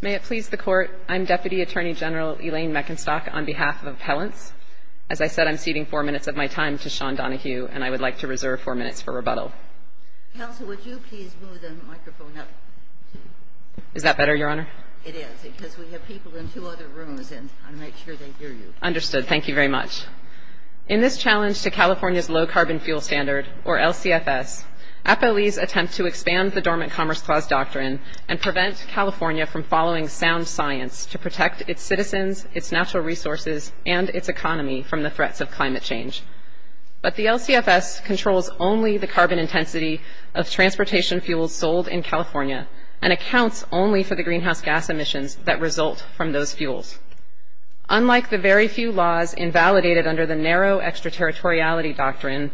May it please the Court, I'm Deputy Attorney General Elaine Meckenstock on behalf of Appellants. As I said, I'm ceding four minutes of my time to Sean Donohue, and I would like to reserve four minutes for rebuttal. Counsel, would you please move the microphone up? Is that better, Your Honor? It is, because we have people in two other rooms, and I want to make sure they hear you. Understood. Thank you very much. In this challenge to California's Low Carbon Fuel Standard, or LCFS, Appellees attempt to expand the Dormant Commerce Clause doctrine and prevent California from following sound science to protect its citizens, its natural resources, and its economy from the threats of climate change. But the LCFS controls only the carbon intensity of transportation fuels sold in California and accounts only for the greenhouse gas emissions that result from those fuels. Unlike the very few laws invalidated under the Narrow Extraterritoriality Doctrine,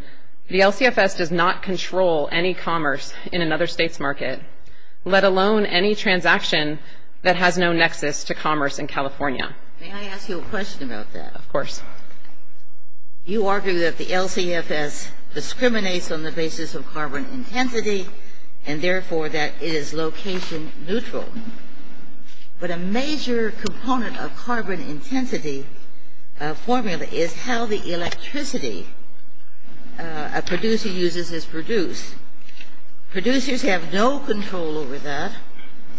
the LCFS does not control any commerce in another state's market, let alone any transaction that has no nexus to commerce in California. May I ask you a question about that? Of course. You argue that the LCFS discriminates on the basis of carbon intensity and, therefore, that it is location neutral. But a major component of carbon intensity formula is how the electricity a producer uses is produced. Producers have no control over that.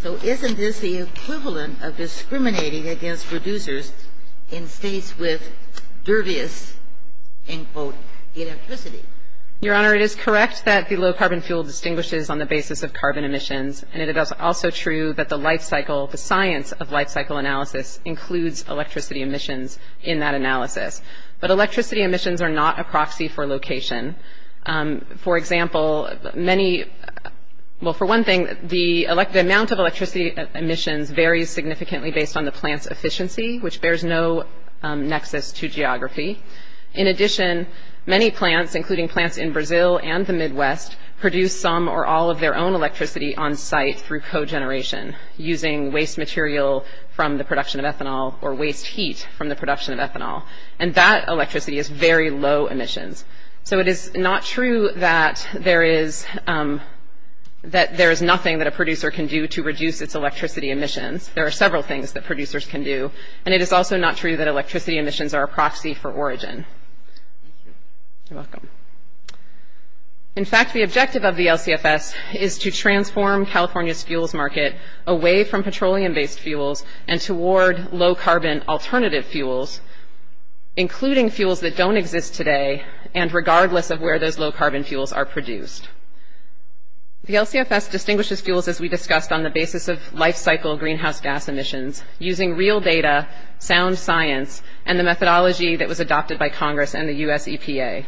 So isn't this the equivalent of discriminating against producers in states with dervious, end quote, electricity? Your Honor, it is correct that the low carbon fuel distinguishes on the basis of carbon emissions, and it is also true that the life cycle, the science of life cycle analysis includes electricity emissions in that analysis. But electricity emissions are not a proxy for location. For example, many, well, for one thing, the amount of electricity emissions varies significantly based on the plant's efficiency, in addition, many plants, including plants in Brazil and the Midwest, produce some or all of their own electricity on site through cogeneration, using waste material from the production of ethanol or waste heat from the production of ethanol, and that electricity is very low emissions. So it is not true that there is nothing that a producer can do to reduce its electricity emissions. There are several things that producers can do, and it is also not true that electricity emissions are a proxy for origin. Thank you. You're welcome. In fact, the objective of the LCFS is to transform California's fuels market away from petroleum-based fuels and toward low carbon alternative fuels, including fuels that don't exist today, and regardless of where those low carbon fuels are produced. The LCFS distinguishes fuels, as we discussed, on the basis of life cycle greenhouse gas emissions, using real data, sound science, and the methodology that was adopted by Congress and the U.S. EPA.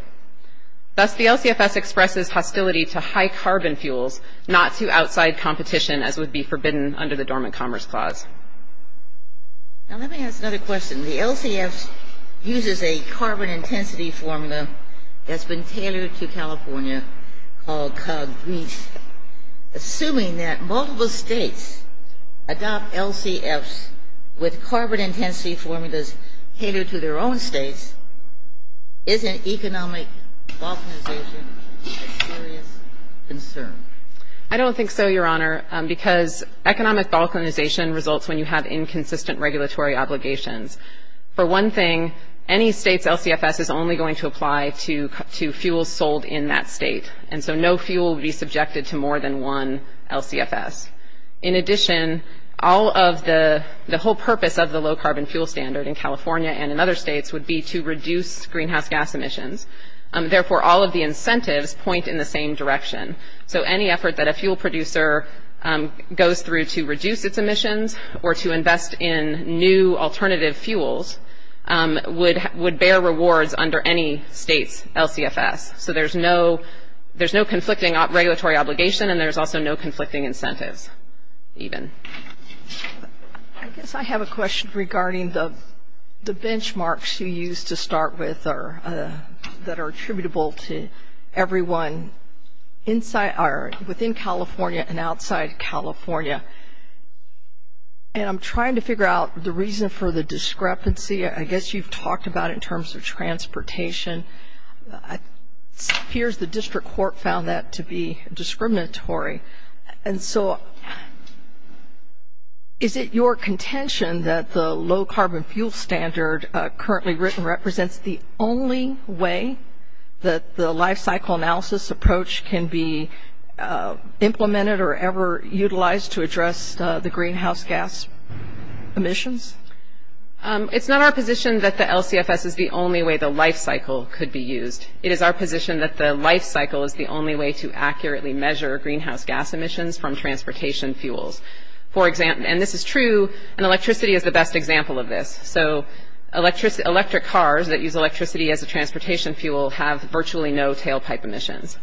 Thus, the LCFS expresses hostility to high carbon fuels, not to outside competition, as would be forbidden under the Dormant Commerce Clause. Now let me ask another question. The LCFS uses a carbon intensity formula that's been tailored to California called COG-GREASE. Assuming that multiple states adopt LCFS with carbon intensity formulas tailored to their own states, isn't economic balkanization a serious concern? I don't think so, Your Honor, because economic balkanization results when you have inconsistent regulatory obligations. For one thing, any state's LCFS is only going to apply to fuels sold in that state, and so no fuel will be subjected to more than one LCFS. In addition, the whole purpose of the low carbon fuel standard in California and in other states would be to reduce greenhouse gas emissions. Therefore, all of the incentives point in the same direction. So any effort that a fuel producer goes through to reduce its emissions or to invest in new alternative fuels would bear rewards under any state's LCFS. So there's no conflicting regulatory obligation, and there's also no conflicting incentives even. I guess I have a question regarding the benchmarks you used to start with that are attributable to everyone within California and outside California, and I'm trying to figure out the reason for the discrepancy. I guess you've talked about it in terms of transportation. It appears the district court found that to be discriminatory. And so is it your contention that the low carbon fuel standard currently written represents the only way that the lifecycle analysis approach can be implemented or ever utilized to address the greenhouse gas emissions? It's not our position that the LCFS is the only way the lifecycle could be used. It is our position that the lifecycle is the only way to accurately measure greenhouse gas emissions from transportation fuels. And this is true, and electricity is the best example of this. So electric cars that use electricity as a transportation fuel have virtually no tailpipe emissions.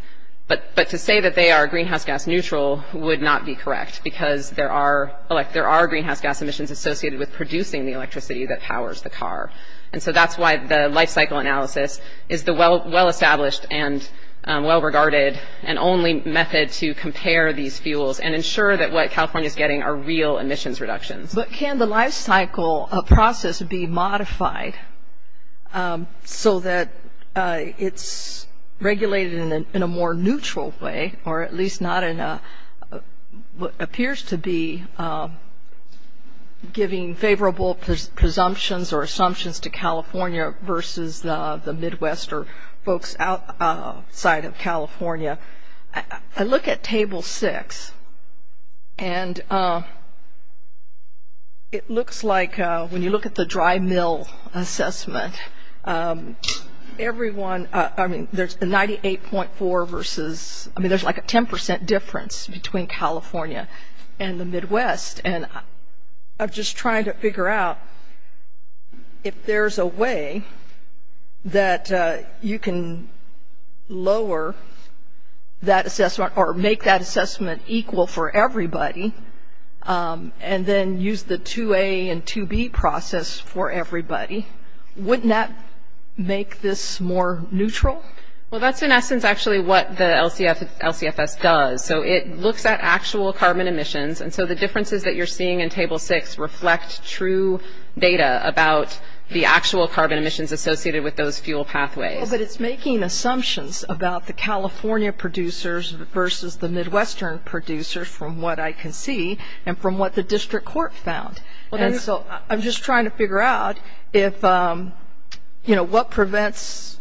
But to say that they are greenhouse gas neutral would not be correct because there are greenhouse gas emissions associated with producing the electricity that powers the car. And so that's why the lifecycle analysis is the well-established and well-regarded and only method to compare these fuels and ensure that what California is getting are real emissions reductions. But can the lifecycle process be modified so that it's regulated in a more neutral way or at least not in what appears to be giving favorable presumptions or assumptions to California versus the Midwest or folks outside of California? I look at Table 6, and it looks like when you look at the dry mill assessment, everyone, I mean, there's a 98.4 versus, I mean, there's like a 10% difference between California and the Midwest. And I'm just trying to figure out if there's a way that you can lower that assessment or make that assessment equal for everybody and then use the 2A and 2B process for everybody. Wouldn't that make this more neutral? Well, that's in essence actually what the LCFS does. So it looks at actual carbon emissions. And so the differences that you're seeing in Table 6 reflect true data about the actual carbon emissions associated with those fuel pathways. But it's making assumptions about the California producers versus the Midwestern producers from what I can see and from what the district court found. And so I'm just trying to figure out if, you know, what prevents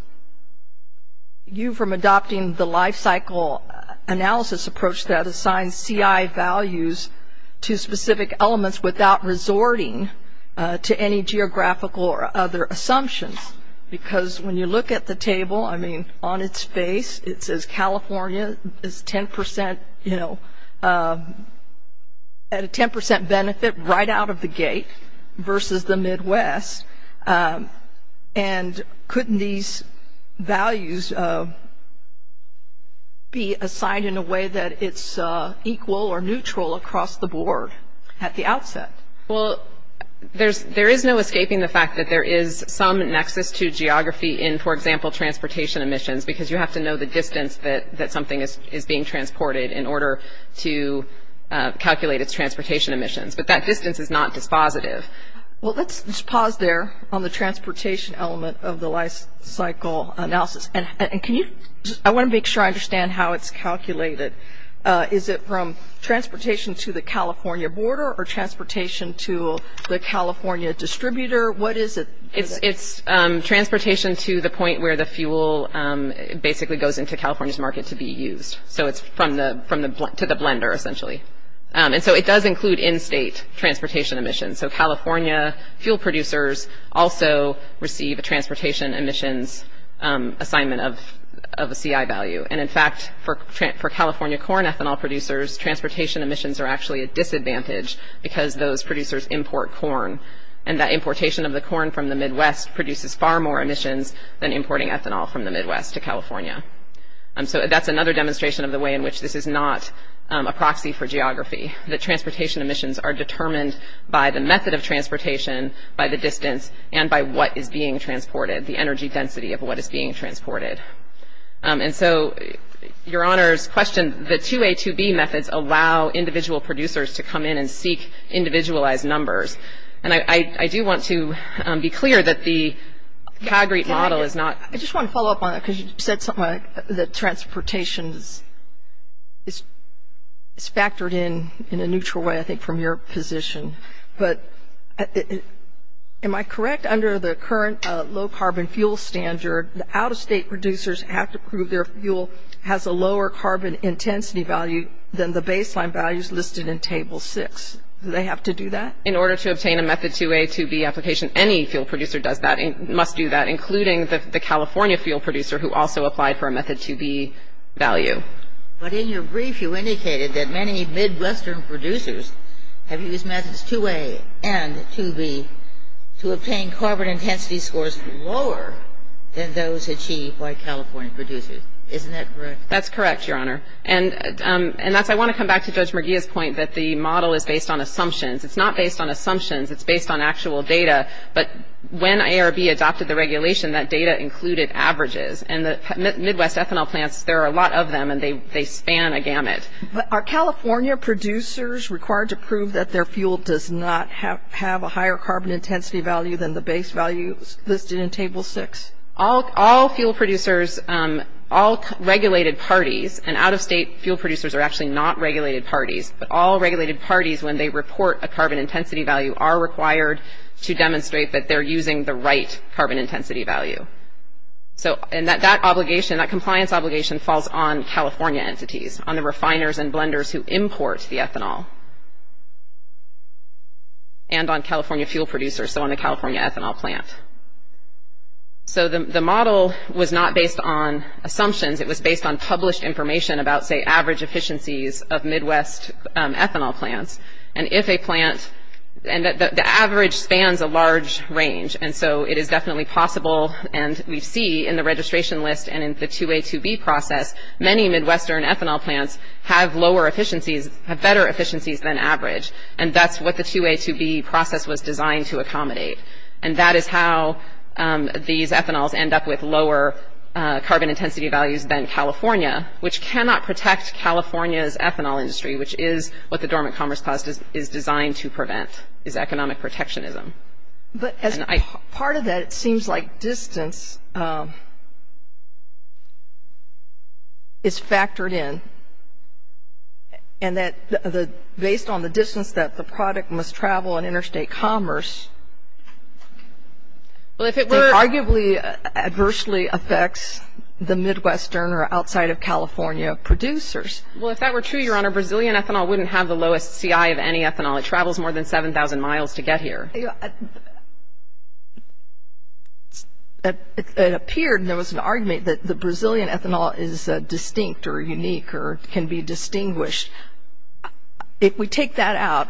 you from adopting the lifecycle analysis approach that assigns CI values to specific elements without resorting to any geographical or other assumptions. Because when you look at the table, I mean, on its face it says California is 10%, you know, at a 10% benefit right out of the gate versus the Midwest. And couldn't these values be assigned in a way that it's equal or neutral across the board at the outset? Well, there is no escaping the fact that there is some nexus to geography in, for example, transportation emissions because you have to know the distance that something is being transported in order to calculate its transportation emissions. But that distance is not dispositive. Well, let's pause there on the transportation element of the lifecycle analysis. And I want to make sure I understand how it's calculated. Is it from transportation to the California border or transportation to the California distributor? What is it? It's transportation to the point where the fuel basically goes into California's market to be used. So it's to the blender essentially. And so it does include in-state transportation emissions. So California fuel producers also receive a transportation emissions assignment of a CI value. And, in fact, for California corn ethanol producers, transportation emissions are actually a disadvantage because those producers import corn. And that importation of the corn from the Midwest produces far more emissions than importing ethanol from the Midwest to California. So that's another demonstration of the way in which this is not a proxy for geography, that transportation emissions are determined by the method of transportation, by the distance, and by what is being transported, the energy density of what is being transported. And so, Your Honor's question, the 2A, 2B methods allow individual producers to come in and seek individualized numbers. And I do want to be clear that the CAGRE model is not – I just want to follow up on that because you said something like that transportation is factored in, in a neutral way, I think, from your position. But am I correct under the current low-carbon fuel standard, the out-of-state producers have to prove their fuel has a lower carbon intensity value than the baseline values listed in Table 6. Do they have to do that? In order to obtain a method 2A, 2B application, any fuel producer does that, must do that, including the California fuel producer who also applied for a method 2B value. But in your brief, you indicated that many Midwestern producers have used methods 2A and 2B to obtain carbon intensity scores lower than those achieved by California producers. Isn't that correct? That's correct, Your Honor. And I want to come back to Judge Merguia's point that the model is based on assumptions. It's not based on assumptions. It's based on actual data. But when ARB adopted the regulation, that data included averages. And the Midwest ethanol plants, there are a lot of them, and they span a gamut. But are California producers required to prove that their fuel does not have a higher carbon intensity value than the base values listed in Table 6? All fuel producers, all regulated parties, and out-of-state fuel producers are actually not regulated parties, but all regulated parties, when they report a carbon intensity value, are required to demonstrate that they're using the right carbon intensity value. And that obligation, that compliance obligation, falls on California entities, on the refiners and blenders who import the ethanol, and on California fuel producers, so on the California ethanol plant. So the model was not based on assumptions. It was based on published information about, say, average efficiencies of Midwest ethanol plants. And if a plant, and the average spans a large range, and so it is definitely possible, and we see in the registration list and in the 2A, 2B process, many Midwestern ethanol plants have lower efficiencies, have better efficiencies than average. And that's what the 2A, 2B process was designed to accommodate. And that is how these ethanols end up with lower carbon intensity values than California, which cannot protect California's ethanol industry, which is what the Dormant Commerce Clause is designed to prevent, is economic protectionism. But as part of that, it seems like distance is factored in, and that based on the distance that the product must travel in interstate commerce, it arguably adversely affects the Midwestern or outside of California producers. Well, if that were true, Your Honor, Brazilian ethanol wouldn't have the lowest CI of any ethanol. It travels more than 7,000 miles to get here. It appeared, and there was an argument, that the Brazilian ethanol is distinct or unique or can be distinguished. If we take that out,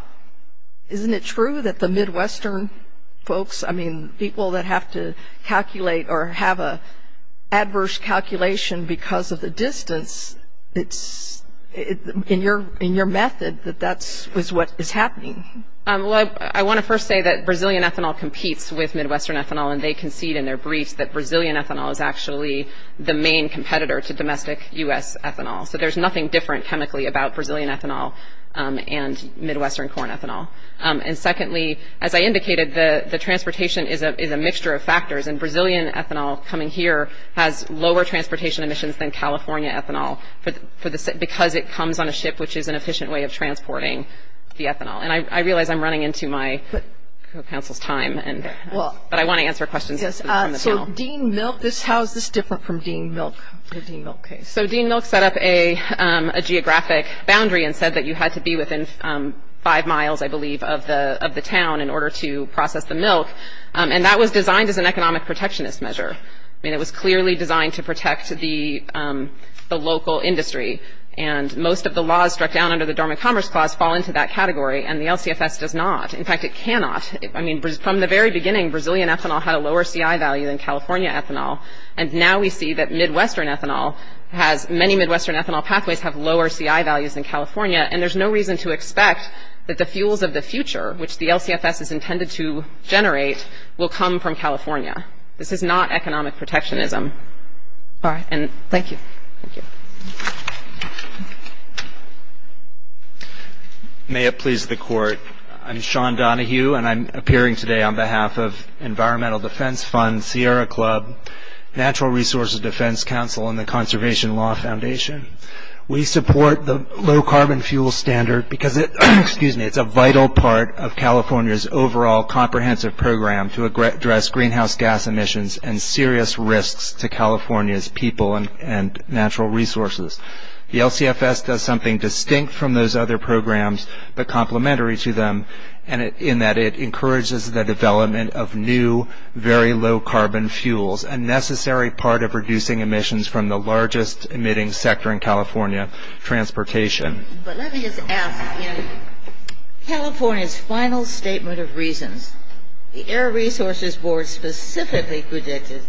isn't it true that the Midwestern folks, I mean, people that have to calculate or have an adverse calculation because of the distance, it's in your method that that is what is happening. Well, I want to first say that Brazilian ethanol competes with Midwestern ethanol, and they concede in their briefs that Brazilian ethanol is actually the main competitor to domestic U.S. ethanol. So there's nothing different chemically about Brazilian ethanol and Midwestern corn ethanol. And secondly, as I indicated, the transportation is a mixture of factors, and Brazilian ethanol coming here has lower transportation emissions than California ethanol because it comes on a ship, which is an efficient way of transporting the ethanol. And I realize I'm running into my counsel's time, but I want to answer questions from the panel. So Dean Milk, how is this different from Dean Milk, the Dean Milk case? So Dean Milk set up a geographic boundary and said that you had to be within five miles, I believe, of the town in order to process the milk, and that was designed as an economic protectionist measure. I mean, it was clearly designed to protect the local industry, and most of the laws struck down under the Dormant Commerce Clause fall into that category, and the LCFS does not. In fact, it cannot. I mean, from the very beginning, Brazilian ethanol had a lower CI value than California ethanol, and now we see that Midwestern ethanol has many Midwestern ethanol pathways have lower CI values than California, and there's no reason to expect that the fuels of the future, which the LCFS is intended to generate, will come from California. This is not economic protectionism. All right, and thank you. May it please the Court. I'm Sean Donohue, and I'm appearing today on behalf of Environmental Defense Fund, Sierra Club, Natural Resources Defense Council, and the Conservation Law Foundation. We support the low-carbon fuel standard because it's a vital part of California's overall comprehensive program to address greenhouse gas emissions and serious risks to California's people and natural resources. The LCFS does something distinct from those other programs, but complementary to them, in that it encourages the development of new, very low-carbon fuels, a necessary part of reducing emissions from the largest emitting sector in California, transportation. But let me just ask, in California's final statement of reasons, the Air Resources Board specifically predicted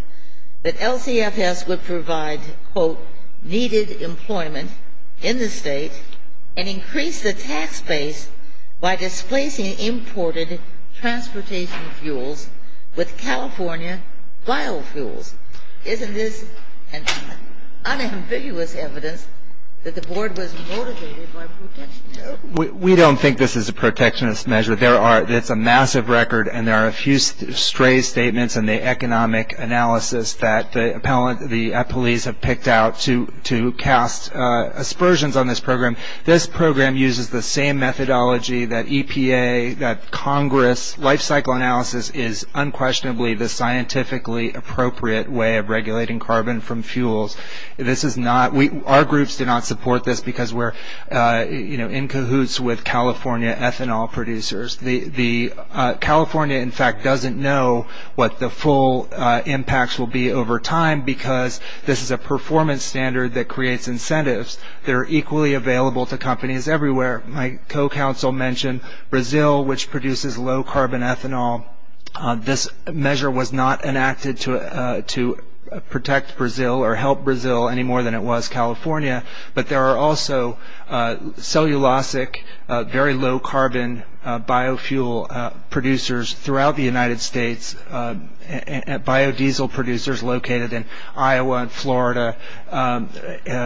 that LCFS would provide, quote, needed employment in the state and increase the tax base by displacing imported transportation fuels with California biofuels. Isn't this unambiguous evidence that the Board was motivated by protectionism? We don't think this is a protectionist measure. It's a massive record, and there are a few stray statements in the economic analysis that the appellees have picked out to cast aspersions on this program. This program uses the same methodology that EPA, that Congress. Life-cycle analysis is unquestionably the scientifically appropriate way of regulating carbon from fuels. Our groups do not support this because we're in cahoots with California ethanol producers. California, in fact, doesn't know what the full impacts will be over time because this is a performance standard that creates incentives that are equally available to companies everywhere. My co-counsel mentioned Brazil, which produces low-carbon ethanol. This measure was not enacted to protect Brazil or help Brazil any more than it was California, but there are also cellulosic, very low-carbon biofuel producers throughout the United States, biodiesel producers located in Iowa and Florida,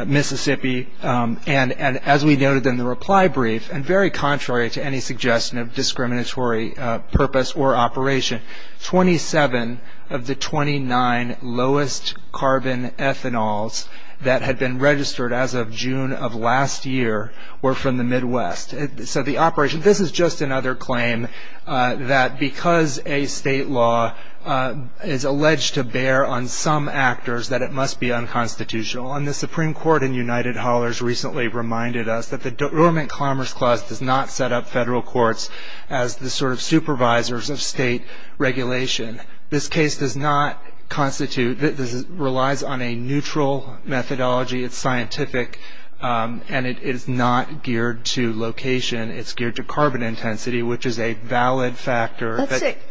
Mississippi. As we noted in the reply brief, and very contrary to any suggestion of discriminatory purpose or operation, 27 of the 29 lowest-carbon ethanols that had been registered as of June of last year were from the Midwest. So the operation, this is just another claim that because a state law is alleged to bear on some actors, that it must be unconstitutional. And the Supreme Court in United Hallers recently reminded us that the Deormant Commerce Clause does not set up federal courts as the sort of supervisors of state regulation. This case does not constitute, relies on a neutral methodology. It's scientific, and it is not geared to location. It's geared to carbon intensity, which is a valid factor.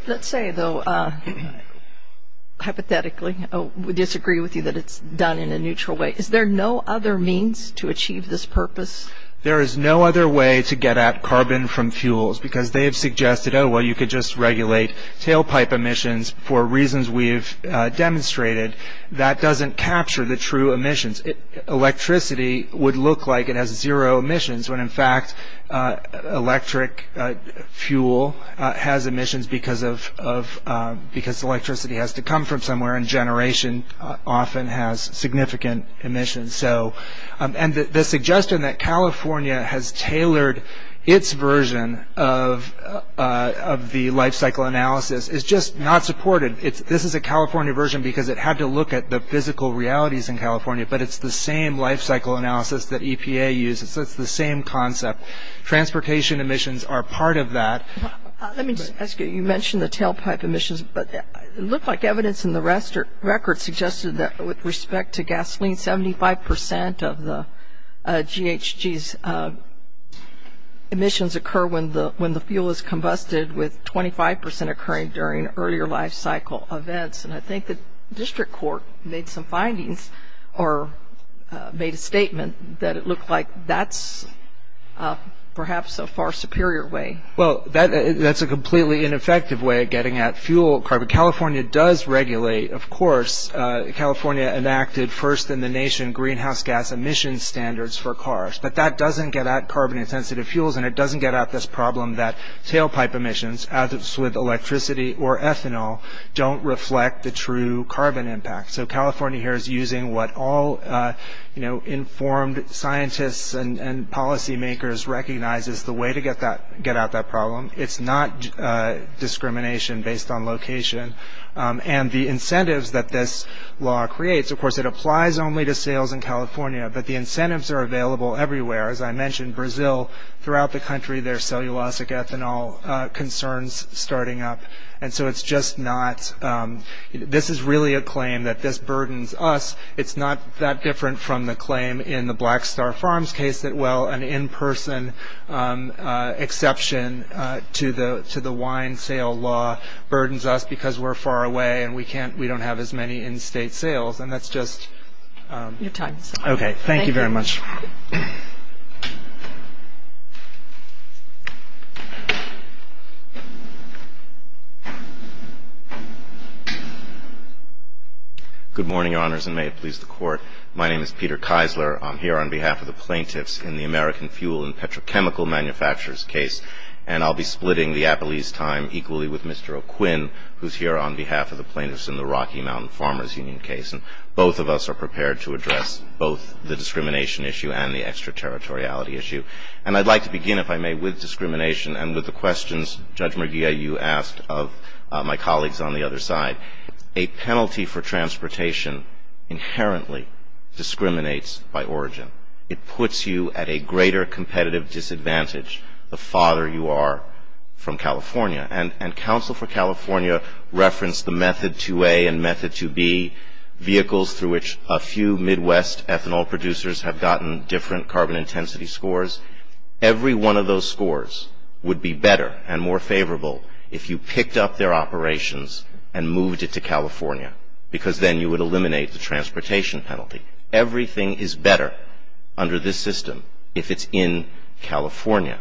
Let's say, though, hypothetically, we disagree with you that it's done in a neutral way. Is there no other means to achieve this purpose? There is no other way to get at carbon from fuels because they have suggested, oh, well, you could just regulate tailpipe emissions for reasons we've demonstrated. That doesn't capture the true emissions. Electricity would look like it has zero emissions when, in fact, electric fuel has emissions because electricity has to come from somewhere, and generation often has significant emissions. And the suggestion that California has tailored its version of the lifecycle analysis is just not supported. This is a California version because it had to look at the physical realities in California, but it's the same lifecycle analysis that EPA uses. It's the same concept. Transportation emissions are part of that. Let me just ask you, you mentioned the tailpipe emissions, but it looked like evidence in the record suggested that with respect to gasoline, 75% of the GHG's emissions occur when the fuel is combusted, with 25% occurring during earlier lifecycle events. And I think the district court made some findings or made a statement that it looked like that's perhaps a far superior way. Well, that's a completely ineffective way of getting at fuel carbon. California does regulate, of course. California enacted first in the nation greenhouse gas emission standards for cars, but that doesn't get at carbon-intensive fuels, and it doesn't get at this problem that tailpipe emissions, as with electricity or ethanol, don't reflect the true carbon impact. So California here is using what all informed scientists and policymakers recognize as the way to get out that problem. It's not discrimination based on location. And the incentives that this law creates, of course, it applies only to sales in California, but the incentives are available everywhere. As I mentioned, Brazil, throughout the country, there are cellulosic ethanol concerns starting up. And so it's just not – this is really a claim that this burdens us. It's not that different from the claim in the Black Star Farms case that, well, an in-person exception to the wine sale law burdens us because we're far away and we don't have as many in-state sales, and that's just – Your time is up. Okay. Thank you very much. Good morning, Your Honors, and may it please the Court. My name is Peter Keisler. I'm here on behalf of the plaintiffs in the American Fuel and Petrochemical Manufacturers case, and I'll be splitting the appellee's time equally with Mr. O'Quinn, who's here on behalf of the plaintiffs in the Rocky Mountain Farmers Union case. And both of us are prepared to address both the discrimination issue and the extraterritoriality issue. And I'd like to begin, if I may, with discrimination and with the questions, Judge Murguia, you asked of my colleagues on the other side. A penalty for transportation inherently discriminates by origin. It puts you at a greater competitive disadvantage the farther you are from California. And counsel for California referenced the Method 2A and Method 2B vehicles through which a few Midwest ethanol producers have gotten different carbon intensity scores. Every one of those scores would be better and more favorable if you picked up their operations and moved it to California because then you would eliminate the transportation penalty. Everything is better under this system if it's in California.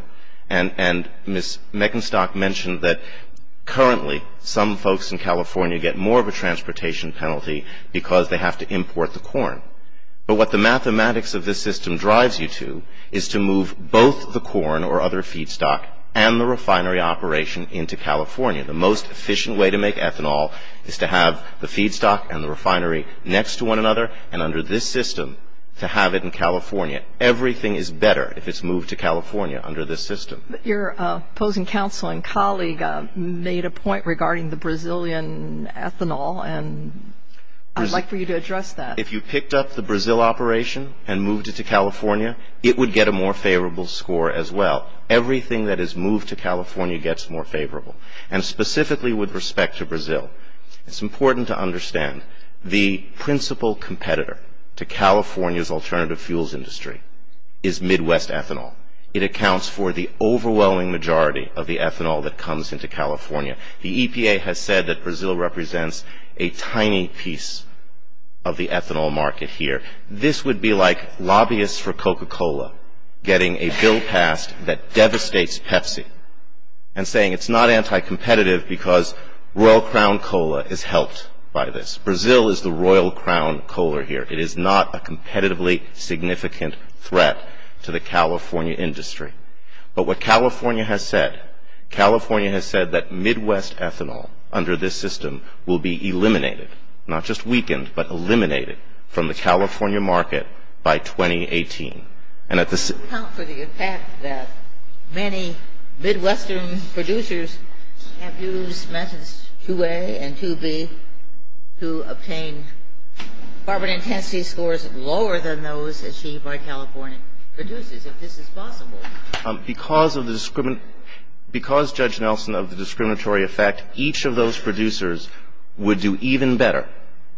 And Ms. Meckenstock mentioned that currently some folks in California get more of a transportation penalty because they have to import the corn. But what the mathematics of this system drives you to is to move both the corn or other feedstock and the refinery operation into California. The most efficient way to make ethanol is to have the feedstock and the refinery next to one another and under this system to have it in California. Everything is better if it's moved to California under this system. Your opposing counsel and colleague made a point regarding the Brazilian ethanol and I'd like for you to address that. If you picked up the Brazil operation and moved it to California, it would get a more favorable score as well. Everything that is moved to California gets more favorable. And specifically with respect to Brazil, it's important to understand the principal competitor to California's alternative fuels industry is Midwest ethanol. It accounts for the overwhelming majority of the ethanol that comes into California. The EPA has said that Brazil represents a tiny piece of the ethanol market here. This would be like lobbyists for Coca-Cola getting a bill passed that devastates Pepsi and saying it's not anti-competitive because Royal Crown Cola is helped by this. Brazil is the Royal Crown Cola here. It is not a competitively significant threat to the California industry. But what California has said, California has said that Midwest ethanol under this system will be eliminated, not just weakened, but eliminated from the California market by 2018. It doesn't account for the impact that many Midwestern producers have used methods 2A and 2B to obtain carbon intensity scores lower than those achieved by California producers. If this is possible. Because of the discriminatory effect, each of those producers would do even better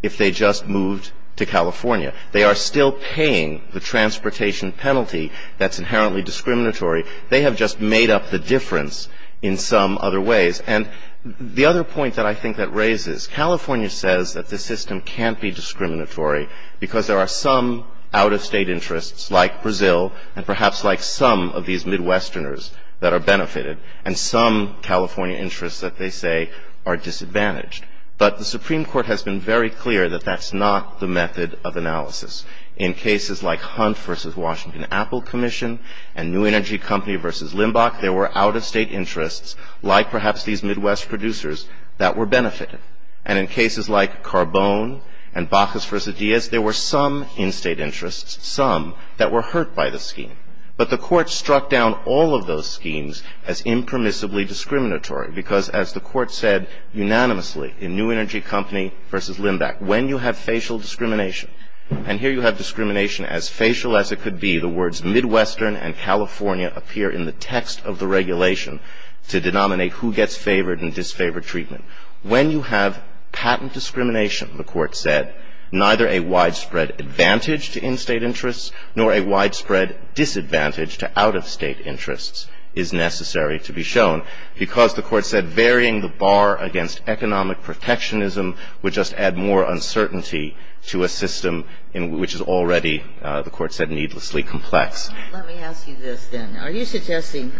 if they just moved to California. They are still paying the transportation penalty that's inherently discriminatory. They have just made up the difference in some other ways. And the other point that I think that raises, California says that the system can't be discriminatory because there are some out-of-state interests like Brazil and perhaps like some of these Midwesterners that are benefited and some California interests that they say are disadvantaged. But the Supreme Court has been very clear that that's not the method of analysis. In cases like Hunt v. Washington-Apple Commission and New Energy Company v. Limbach, there were out-of-state interests like perhaps these Midwest producers that were benefited. And in cases like Carbone and Bacchus v. Diaz, there were some in-state interests, some that were hurt by the scheme. But the court struck down all of those schemes as impermissibly discriminatory because, as the court said unanimously in New Energy Company v. Limbach, when you have facial discrimination, and here you have discrimination as facial as it could be, the words Midwestern and California appear in the text of the regulation to denominate who gets favored and disfavored treatment. When you have patent discrimination, the court said, neither a widespread advantage to in-state interests nor a widespread disadvantage to out-of-state interests is necessary to be shown because the court said varying the bar against economic protectionism would just add more uncertainty to a system which is already, the court said, needlessly complex. Let me ask you this then. Are you suggesting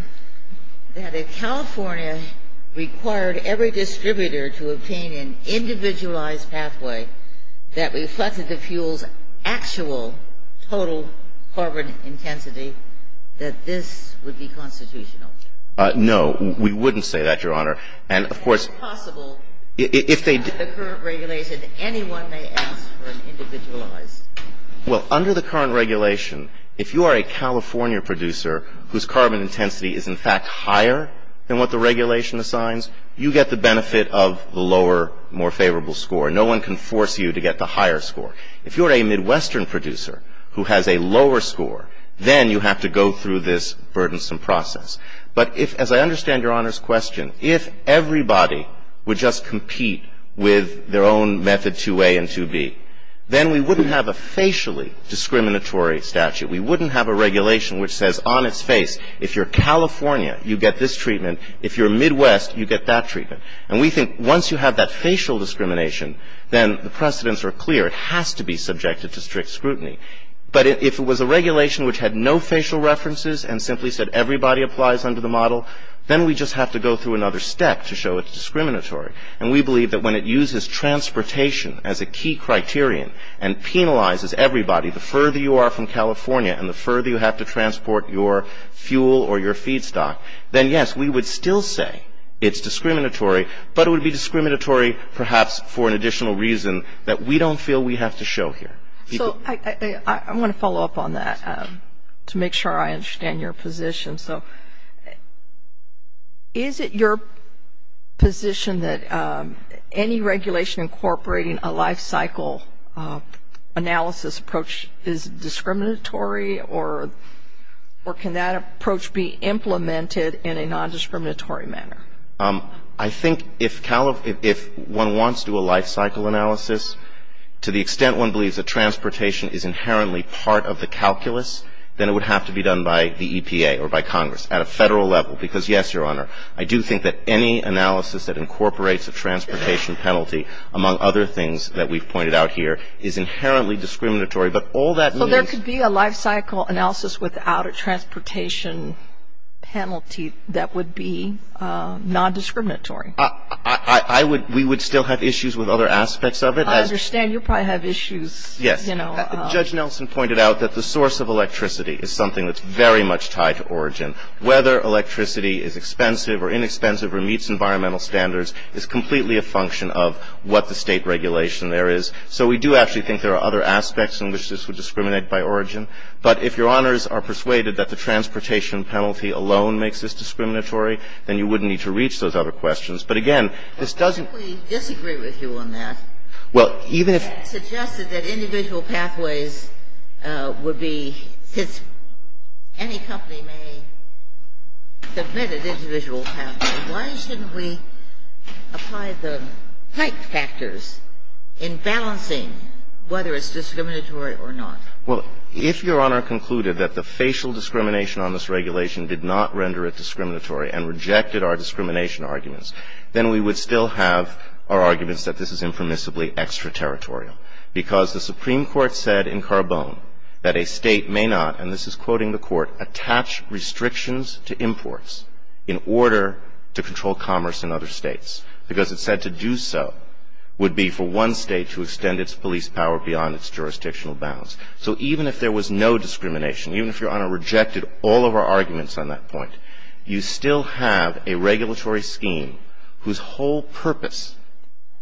that if California required every distributor to obtain an individualized pathway that reflected the fuel's actual total carbon intensity, that this would be constitutional? No. We wouldn't say that, Your Honor. And, of course — Is it possible that the current regulation, anyone may ask for an individualized — Well, under the current regulation, if you are a California producer whose carbon intensity is in fact higher than what the regulation assigns, you get the benefit of the lower, more favorable score. No one can force you to get the higher score. If you're a Midwestern producer who has a lower score, then you have to go through this burdensome process. But if, as I understand Your Honor's question, if everybody would just compete with their own method 2a and 2b, then we wouldn't have a facially discriminatory statute. We wouldn't have a regulation which says on its face, if you're California, you get this treatment. If you're Midwest, you get that treatment. And we think once you have that facial discrimination, then the precedents are clear. It has to be subjected to strict scrutiny. But if it was a regulation which had no facial references and simply said everybody applies under the model, then we just have to go through another step to show it's discriminatory. And we believe that when it uses transportation as a key criterion and penalizes everybody, the further you are from California and the further you have to transport your fuel or your feedstock, then, yes, we would still say it's discriminatory, but it would be discriminatory perhaps for an additional reason that we don't feel we have to show here. So I want to follow up on that to make sure I understand your position. So is it your position that any regulation incorporating a lifecycle analysis approach is discriminatory or can that approach be implemented in a non-discriminatory manner? I think if one wants to do a lifecycle analysis, to the extent one believes that transportation is inherently part of the calculus, then it would have to be done by the EPA or by Congress at a Federal level. Because, yes, Your Honor, I do think that any analysis that incorporates a transportation penalty, among other things that we've pointed out here, is inherently discriminatory. But all that means Well, there could be a lifecycle analysis without a transportation penalty that would be non-discriminatory. We would still have issues with other aspects of it. I understand. You probably have issues. Yes. Judge Nelson pointed out that the source of electricity is something that's very much tied to origin. Whether electricity is expensive or inexpensive or meets environmental standards is completely a function of what the State regulation there is. So we do actually think there are other aspects in which this would discriminate by origin. But if Your Honors are persuaded that the transportation penalty alone makes this But, again, this doesn't We disagree with you on that. Well, even if It suggested that individual pathways would be, since any company may submit an individual pathway, why shouldn't we apply the type factors in balancing whether it's discriminatory or not? Well, if Your Honor concluded that the facial discrimination on this regulation did not render it discriminatory and rejected our discrimination arguments, then we would still have our arguments that this is impermissibly extraterritorial. Because the Supreme Court said in Carbone that a State may not, and this is quoting the Court, attach restrictions to imports in order to control commerce in other States. Because it said to do so would be for one State to extend its police power beyond its jurisdictional bounds. So even if there was no discrimination, even if Your Honor rejected all of our arguments on that point, you still have a regulatory scheme whose whole purpose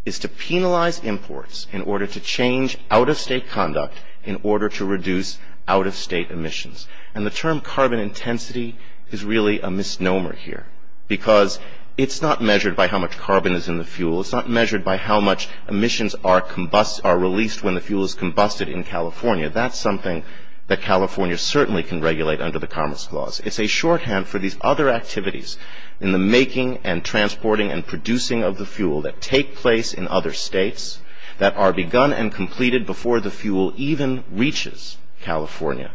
is to penalize imports in order to change out-of-State conduct in order to reduce out-of-State emissions. And the term carbon intensity is really a misnomer here. Because it's not measured by how much carbon is in the fuel. It's not measured by how much emissions are released when the fuel is combusted in California. That's something that California certainly can regulate under the Commerce Clause. It's a shorthand for these other activities in the making and transporting and producing of the fuel that take place in other States that are begun and completed before the fuel even reaches California.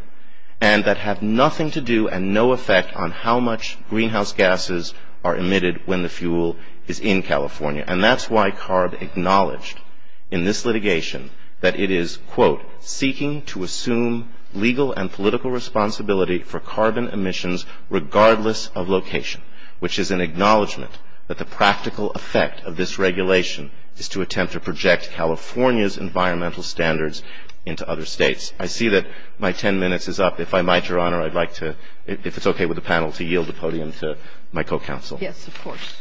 And that have nothing to do and no effect on how much greenhouse gases are emitted when the fuel is in California. And that's why CARB acknowledged in this litigation that it is, quote, legal and political responsibility for carbon emissions regardless of location. Which is an acknowledgment that the practical effect of this regulation is to attempt to project California's environmental standards into other States. I see that my ten minutes is up. If I might, Your Honor, I'd like to, if it's okay with the panel, to yield the podium to my co-counsel. Yes, of course.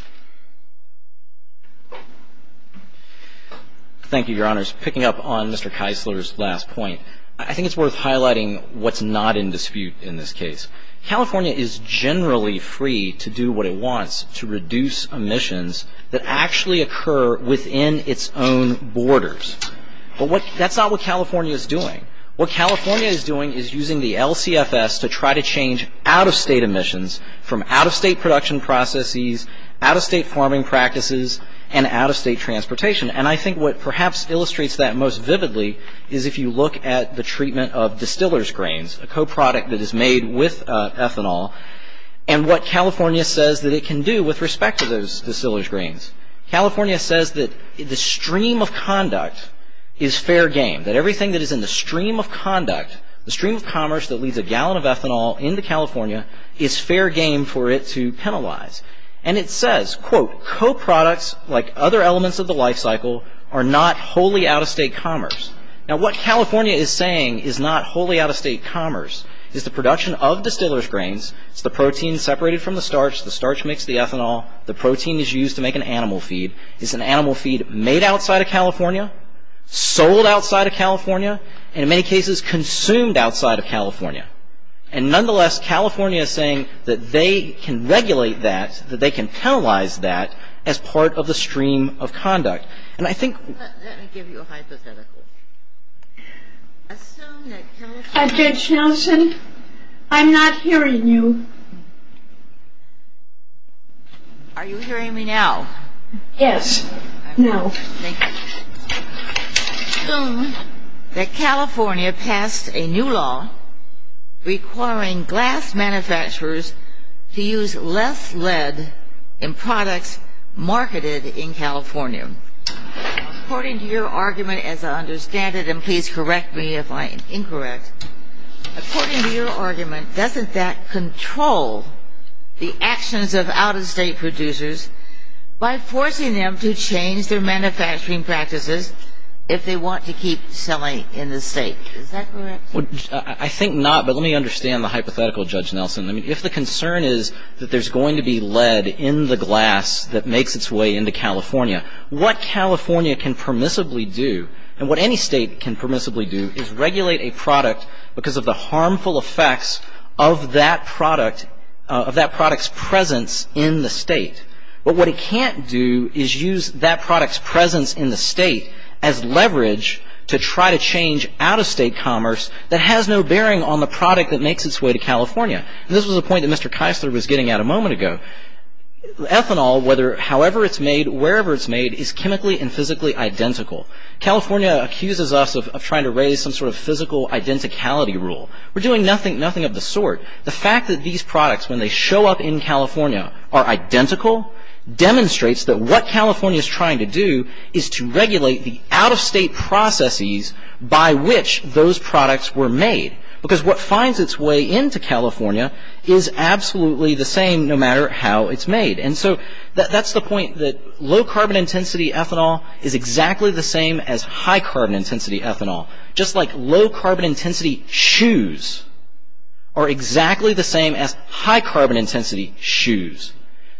Thank you, Your Honors. Just picking up on Mr. Keisler's last point, I think it's worth highlighting what's not in dispute in this case. California is generally free to do what it wants to reduce emissions that actually occur within its own borders. But that's not what California is doing. What California is doing is using the LCFS to try to change out-of-State emissions from out-of-State production processes, out-of-State farming practices, and out-of-State transportation. And I think what perhaps illustrates that most vividly is if you look at the treatment of distiller's grains, a co-product that is made with ethanol, and what California says that it can do with respect to those distiller's grains. California says that the stream of conduct is fair game, that everything that is in the stream of conduct, the stream of commerce that leads a gallon of ethanol into California is fair game for it to penalize. And it says, quote, co-products like other elements of the life cycle are not wholly out-of-State commerce. Now what California is saying is not wholly out-of-State commerce. It's the production of distiller's grains. It's the protein separated from the starch. The starch makes the ethanol. The protein is used to make an animal feed. It's an animal feed made outside of California, sold outside of California, and in many cases consumed outside of California. And nonetheless, California is saying that they can regulate that, that they can penalize that as part of the stream of conduct. And I think — Assume that California — Judge Nelson, I'm not hearing you. Are you hearing me now? Yes. Now. Thank you. Assume that California passed a new law requiring glass manufacturers to use less lead in products marketed in California. According to your argument, as I understand it, and please correct me if I am incorrect, according to your argument, doesn't that control the actions of out-of-State producers by forcing them to change their manufacturing practices if they want to keep selling in the State? Is that correct? I think not, but let me understand the hypothetical, Judge Nelson. I mean, if the concern is that there's going to be lead in the glass that makes its way into California, what California can permissibly do, and what any State can permissibly do, is regulate a product because of the harmful effects of that product's presence in the State. But what it can't do is use that product's presence in the State as leverage to try to change out-of-State commerce that has no bearing on the product that makes its way to California. This was a point that Mr. Keisler was getting at a moment ago. Ethanol, however it's made, wherever it's made, is chemically and physically identical. California accuses us of trying to raise some sort of physical identicality rule. We're doing nothing of the sort. The fact that these products, when they show up in California, are identical, demonstrates that what California is trying to do is to regulate the out-of-State processes by which those products were made. Because what finds its way into California is absolutely the same no matter how it's made. And so that's the point that low-carbon intensity ethanol is exactly the same as high-carbon intensity ethanol. Just like low-carbon intensity shoes are exactly the same as high-carbon intensity shoes.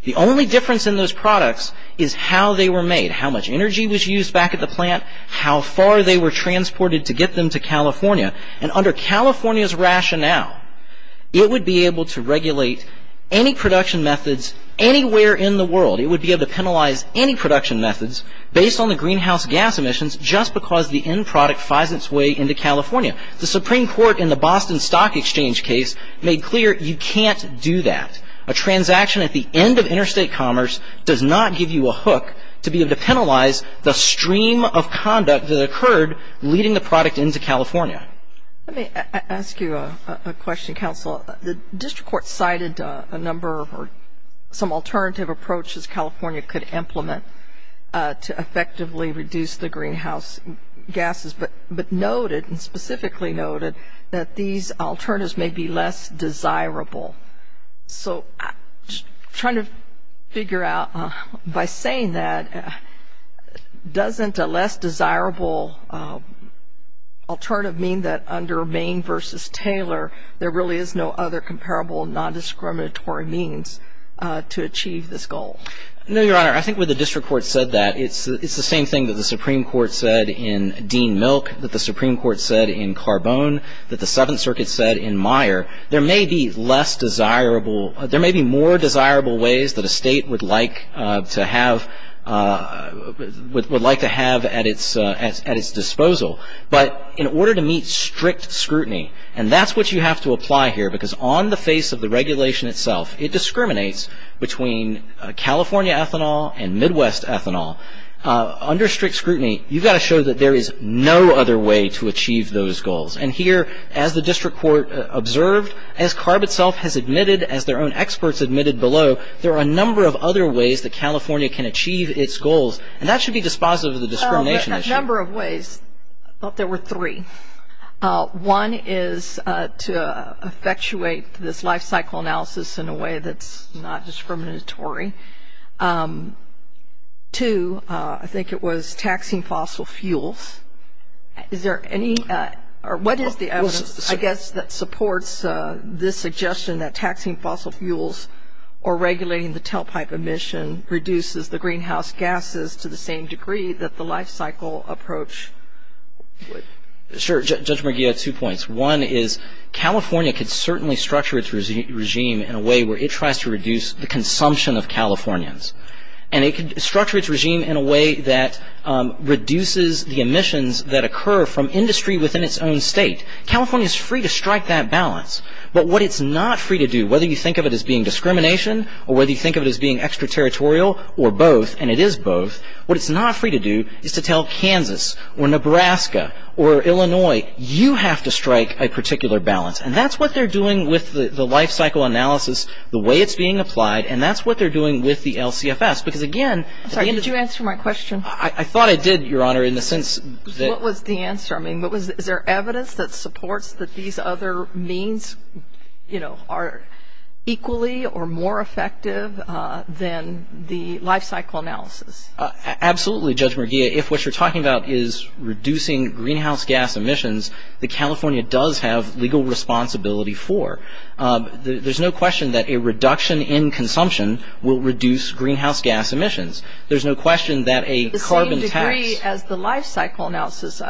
The only difference in those products is how they were made, how much energy was used back at the plant, how far they were transported to get them to California. And under California's rationale, it would be able to regulate any production methods anywhere in the world. It would be able to penalize any production methods based on the greenhouse gas emissions just because the end product finds its way into California. The Supreme Court in the Boston Stock Exchange case made clear you can't do that. A transaction at the end of interstate commerce does not give you a hook to be able to penalize the stream of conduct that occurred leading the product into California. Let me ask you a question, Counsel. The District Court cited a number of or some alternative approaches California could implement to effectively reduce the greenhouse gases, but noted, and specifically noted, that these alternatives may be less desirable. So trying to figure out, by saying that, doesn't a less desirable alternative mean that under Maine versus Taylor, there really is no other comparable nondiscriminatory means to achieve this goal? No, Your Honor. I think when the District Court said that, it's the same thing that the Supreme Court said in Dean Milk, that the Supreme Court said in Carbone, that the Seventh Circuit said in Meyer. There may be more desirable ways that a state would like to have at its disposal, but in order to meet strict scrutiny, and that's what you have to apply here, because on the face of the regulation itself, it discriminates between California ethanol and Midwest ethanol. Under strict scrutiny, you've got to show that there is no other way to achieve those goals. And here, as the District Court observed, as CARB itself has admitted, as their own experts admitted below, there are a number of other ways that California can achieve its goals, and that should be dispositive of the discrimination issue. A number of ways. I thought there were three. One is to effectuate this life cycle analysis in a way that's not discriminatory. Two, I think it was taxing fossil fuels. Is there any or what is the evidence, I guess, that supports this suggestion that taxing fossil fuels or regulating the tailpipe emission reduces the greenhouse gases to the same degree that the life cycle approach would? Sure. Judge McGee had two points. One is California could certainly structure its regime in a way where it tries to reduce the consumption of Californians. And it could structure its regime in a way that reduces the emissions that occur from industry within its own state. California is free to strike that balance. But what it's not free to do, whether you think of it as being discrimination or whether you think of it as being extraterritorial or both, and it is both, what it's not free to do is to tell Kansas or Nebraska or Illinois, you have to strike a particular balance. And that's what they're doing with the life cycle analysis, the way it's being applied, and that's what they're doing with the LCFS because, again, Sorry, did you answer my question? I thought I did, Your Honor, in the sense that What was the answer? I mean, is there evidence that supports that these other means, you know, are equally or more effective than the life cycle analysis? Absolutely, Judge McGee. If what you're talking about is reducing greenhouse gas emissions, that California does have legal responsibility for. There's no question that a reduction in consumption will reduce greenhouse gas emissions. There's no question that a carbon tax To the same degree as the life cycle analysis.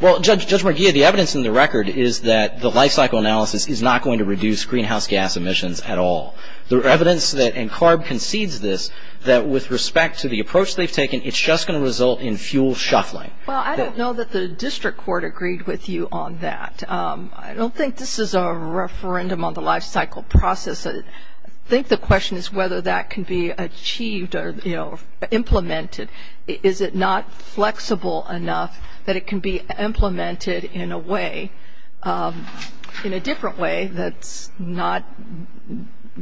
Well, Judge McGee, the evidence in the record is that the life cycle analysis is not going to reduce greenhouse gas emissions at all. There's evidence that, and CARB concedes this, that with respect to the approach they've taken, it's just going to result in fuel shuffling. Well, I don't know that the district court agreed with you on that. I don't think this is a referendum on the life cycle process. I think the question is whether that can be achieved or, you know, implemented. Is it not flexible enough that it can be implemented in a way, in a different way that's not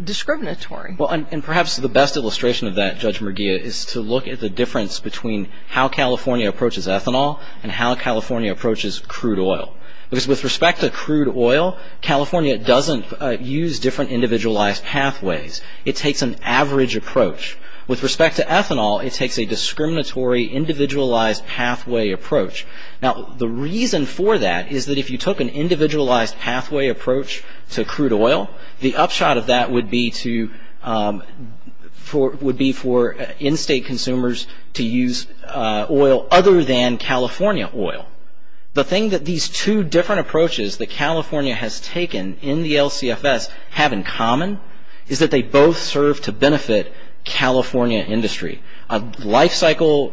discriminatory? Well, and perhaps the best illustration of that, Judge McGee, is to look at the difference between how California approaches ethanol and how California approaches crude oil. Because with respect to crude oil, California doesn't use different individualized pathways. It takes an average approach. With respect to ethanol, it takes a discriminatory, individualized pathway approach. Now, the reason for that is that if you took an individualized pathway approach to crude oil, the upshot of that would be for in-state consumers to use oil other than California oil. Now, the thing that these two different approaches that California has taken in the LCFS have in common is that they both serve to benefit California industry. A life cycle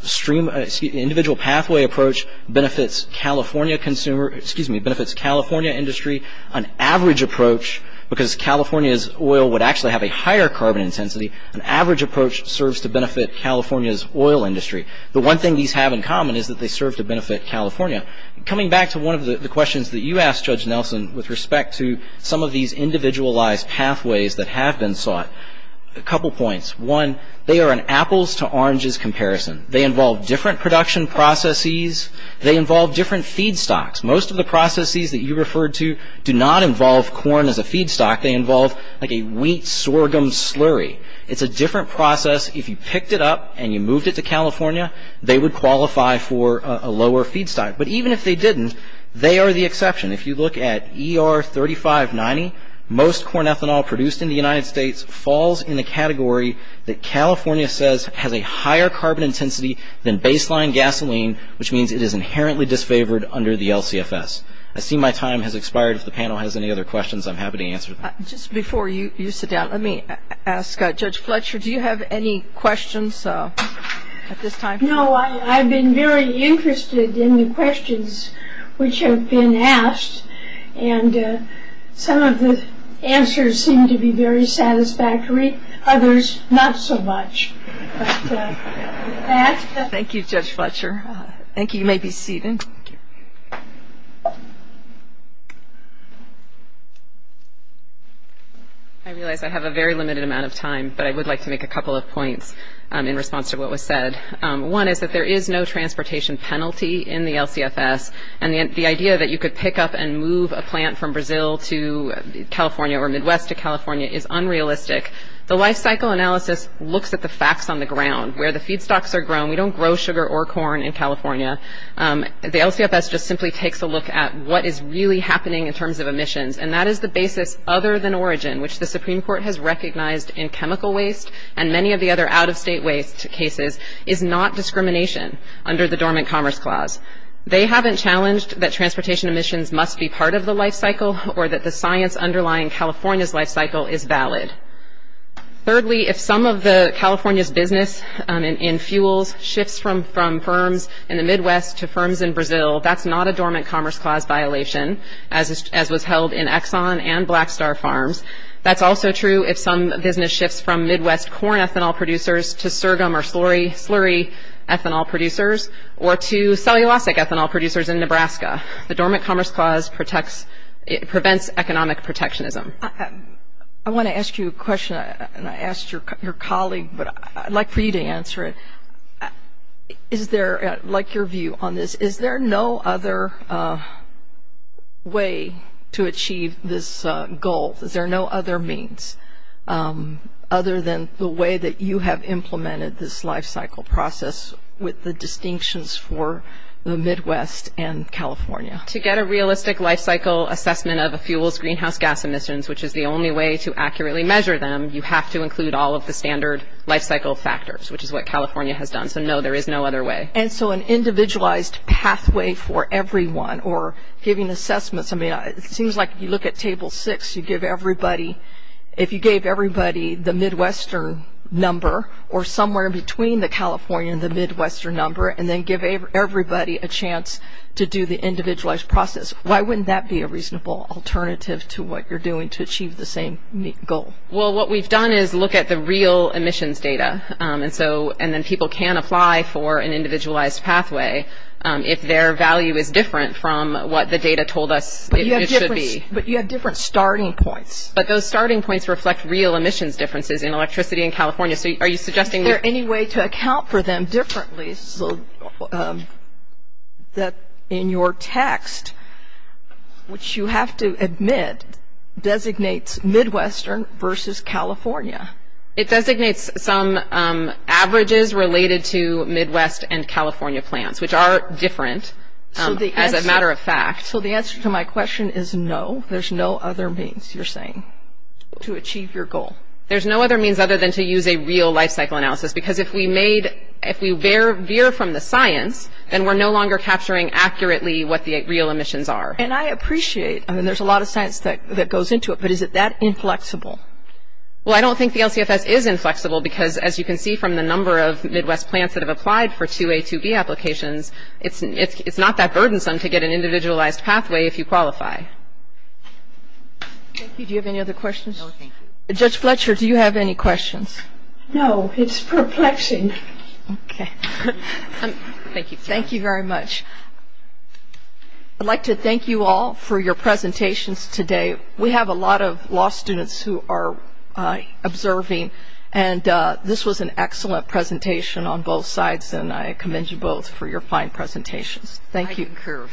stream, individual pathway approach benefits California consumer, excuse me, benefits California industry. An average approach, because California's oil would actually have a higher carbon intensity, an average approach serves to benefit California's oil industry. The one thing these have in common is that they serve to benefit California. Coming back to one of the questions that you asked, Judge Nelson, with respect to some of these individualized pathways that have been sought, a couple points. One, they are an apples to oranges comparison. They involve different production processes. They involve different feedstocks. Most of the processes that you referred to do not involve corn as a feedstock. They involve like a wheat sorghum slurry. It's a different process. If you picked it up and you moved it to California, they would qualify for a lower feedstock. But even if they didn't, they are the exception. If you look at ER 3590, most corn ethanol produced in the United States falls in the category that California says has a higher carbon intensity than baseline gasoline, which means it is inherently disfavored under the LCFS. I see my time has expired. If the panel has any other questions, I'm happy to answer them. Just before you sit down, let me ask Judge Fletcher, do you have any questions at this time? No, I've been very interested in the questions which have been asked, and some of the answers seem to be very satisfactory, others not so much. Thank you, Judge Fletcher. Thank you. You may be seated. I realize I have a very limited amount of time, but I would like to make a couple of points in response to what was said. One is that there is no transportation penalty in the LCFS, and the idea that you could pick up and move a plant from Brazil to California or Midwest to California is unrealistic. The life cycle analysis looks at the facts on the ground. Where the feedstocks are grown, we don't grow sugar or corn in California. The LCFS just simply takes a look at what is really happening in terms of emissions, and that is the basis other than origin, which the Supreme Court has recognized in chemical waste and many of the other out-of-state waste cases is not discrimination under the Dormant Commerce Clause. They haven't challenged that transportation emissions must be part of the life cycle or that the science underlying California's life cycle is valid. Thirdly, if some of California's business in fuels shifts from firms in the Midwest to firms in Brazil, that's not a Dormant Commerce Clause violation, as was held in Exxon and Black Star Farms. That's also true if some business shifts from Midwest corn ethanol producers to sergum or slurry ethanol producers or to cellulosic ethanol producers in Nebraska. The Dormant Commerce Clause prevents economic protectionism. I want to ask you a question, and I asked your colleague, but I'd like for you to answer it. Is there, like your view on this, is there no other way to achieve this goal? Is there no other means other than the way that you have implemented this life cycle process with the distinctions for the Midwest and California? To get a realistic life cycle assessment of a fuel's greenhouse gas emissions, which is the only way to accurately measure them, you have to include all of the standard life cycle factors, which is what California has done. So, no, there is no other way. And so an individualized pathway for everyone or giving assessments. I mean, it seems like if you look at Table 6, you give everybody, if you gave everybody the Midwestern number or somewhere in between the California and the Midwestern number and then give everybody a chance to do the individualized process. Why wouldn't that be a reasonable alternative to what you're doing to achieve the same goal? Well, what we've done is look at the real emissions data, and then people can apply for an individualized pathway if their value is different from what the data told us it should be. But you have different starting points. But those starting points reflect real emissions differences in electricity in California. Is there any way to account for them differently so that in your text, which you have to admit designates Midwestern versus California? It designates some averages related to Midwest and California plants, which are different as a matter of fact. So the answer to my question is no. There's no other means, you're saying, to achieve your goal. There's no other means other than to use a real life cycle analysis because if we veer from the science, then we're no longer capturing accurately what the real emissions are. And I appreciate, I mean, there's a lot of science that goes into it, but is it that inflexible? Well, I don't think the LCFS is inflexible because as you can see from the number of Midwest plants that have applied for 2A, 2B applications, it's not that burdensome to get an individualized pathway if you qualify. Thank you. Do you have any other questions? No, thank you. Judge Fletcher, do you have any questions? No, it's perplexing. Okay. Thank you. Thank you very much. I'd like to thank you all for your presentations today. We have a lot of law students who are observing, and this was an excellent presentation on both sides, and I commend you both for your fine presentations. Thank you. I concur.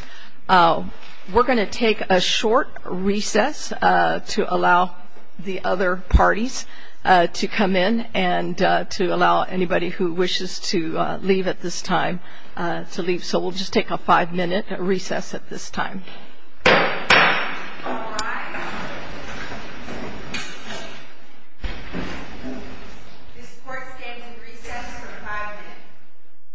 We're going to take a short recess to allow the other parties to come in and to allow anybody who wishes to leave at this time to leave. So we'll just take a five-minute recess at this time. All rise. This court stands in recess for five minutes.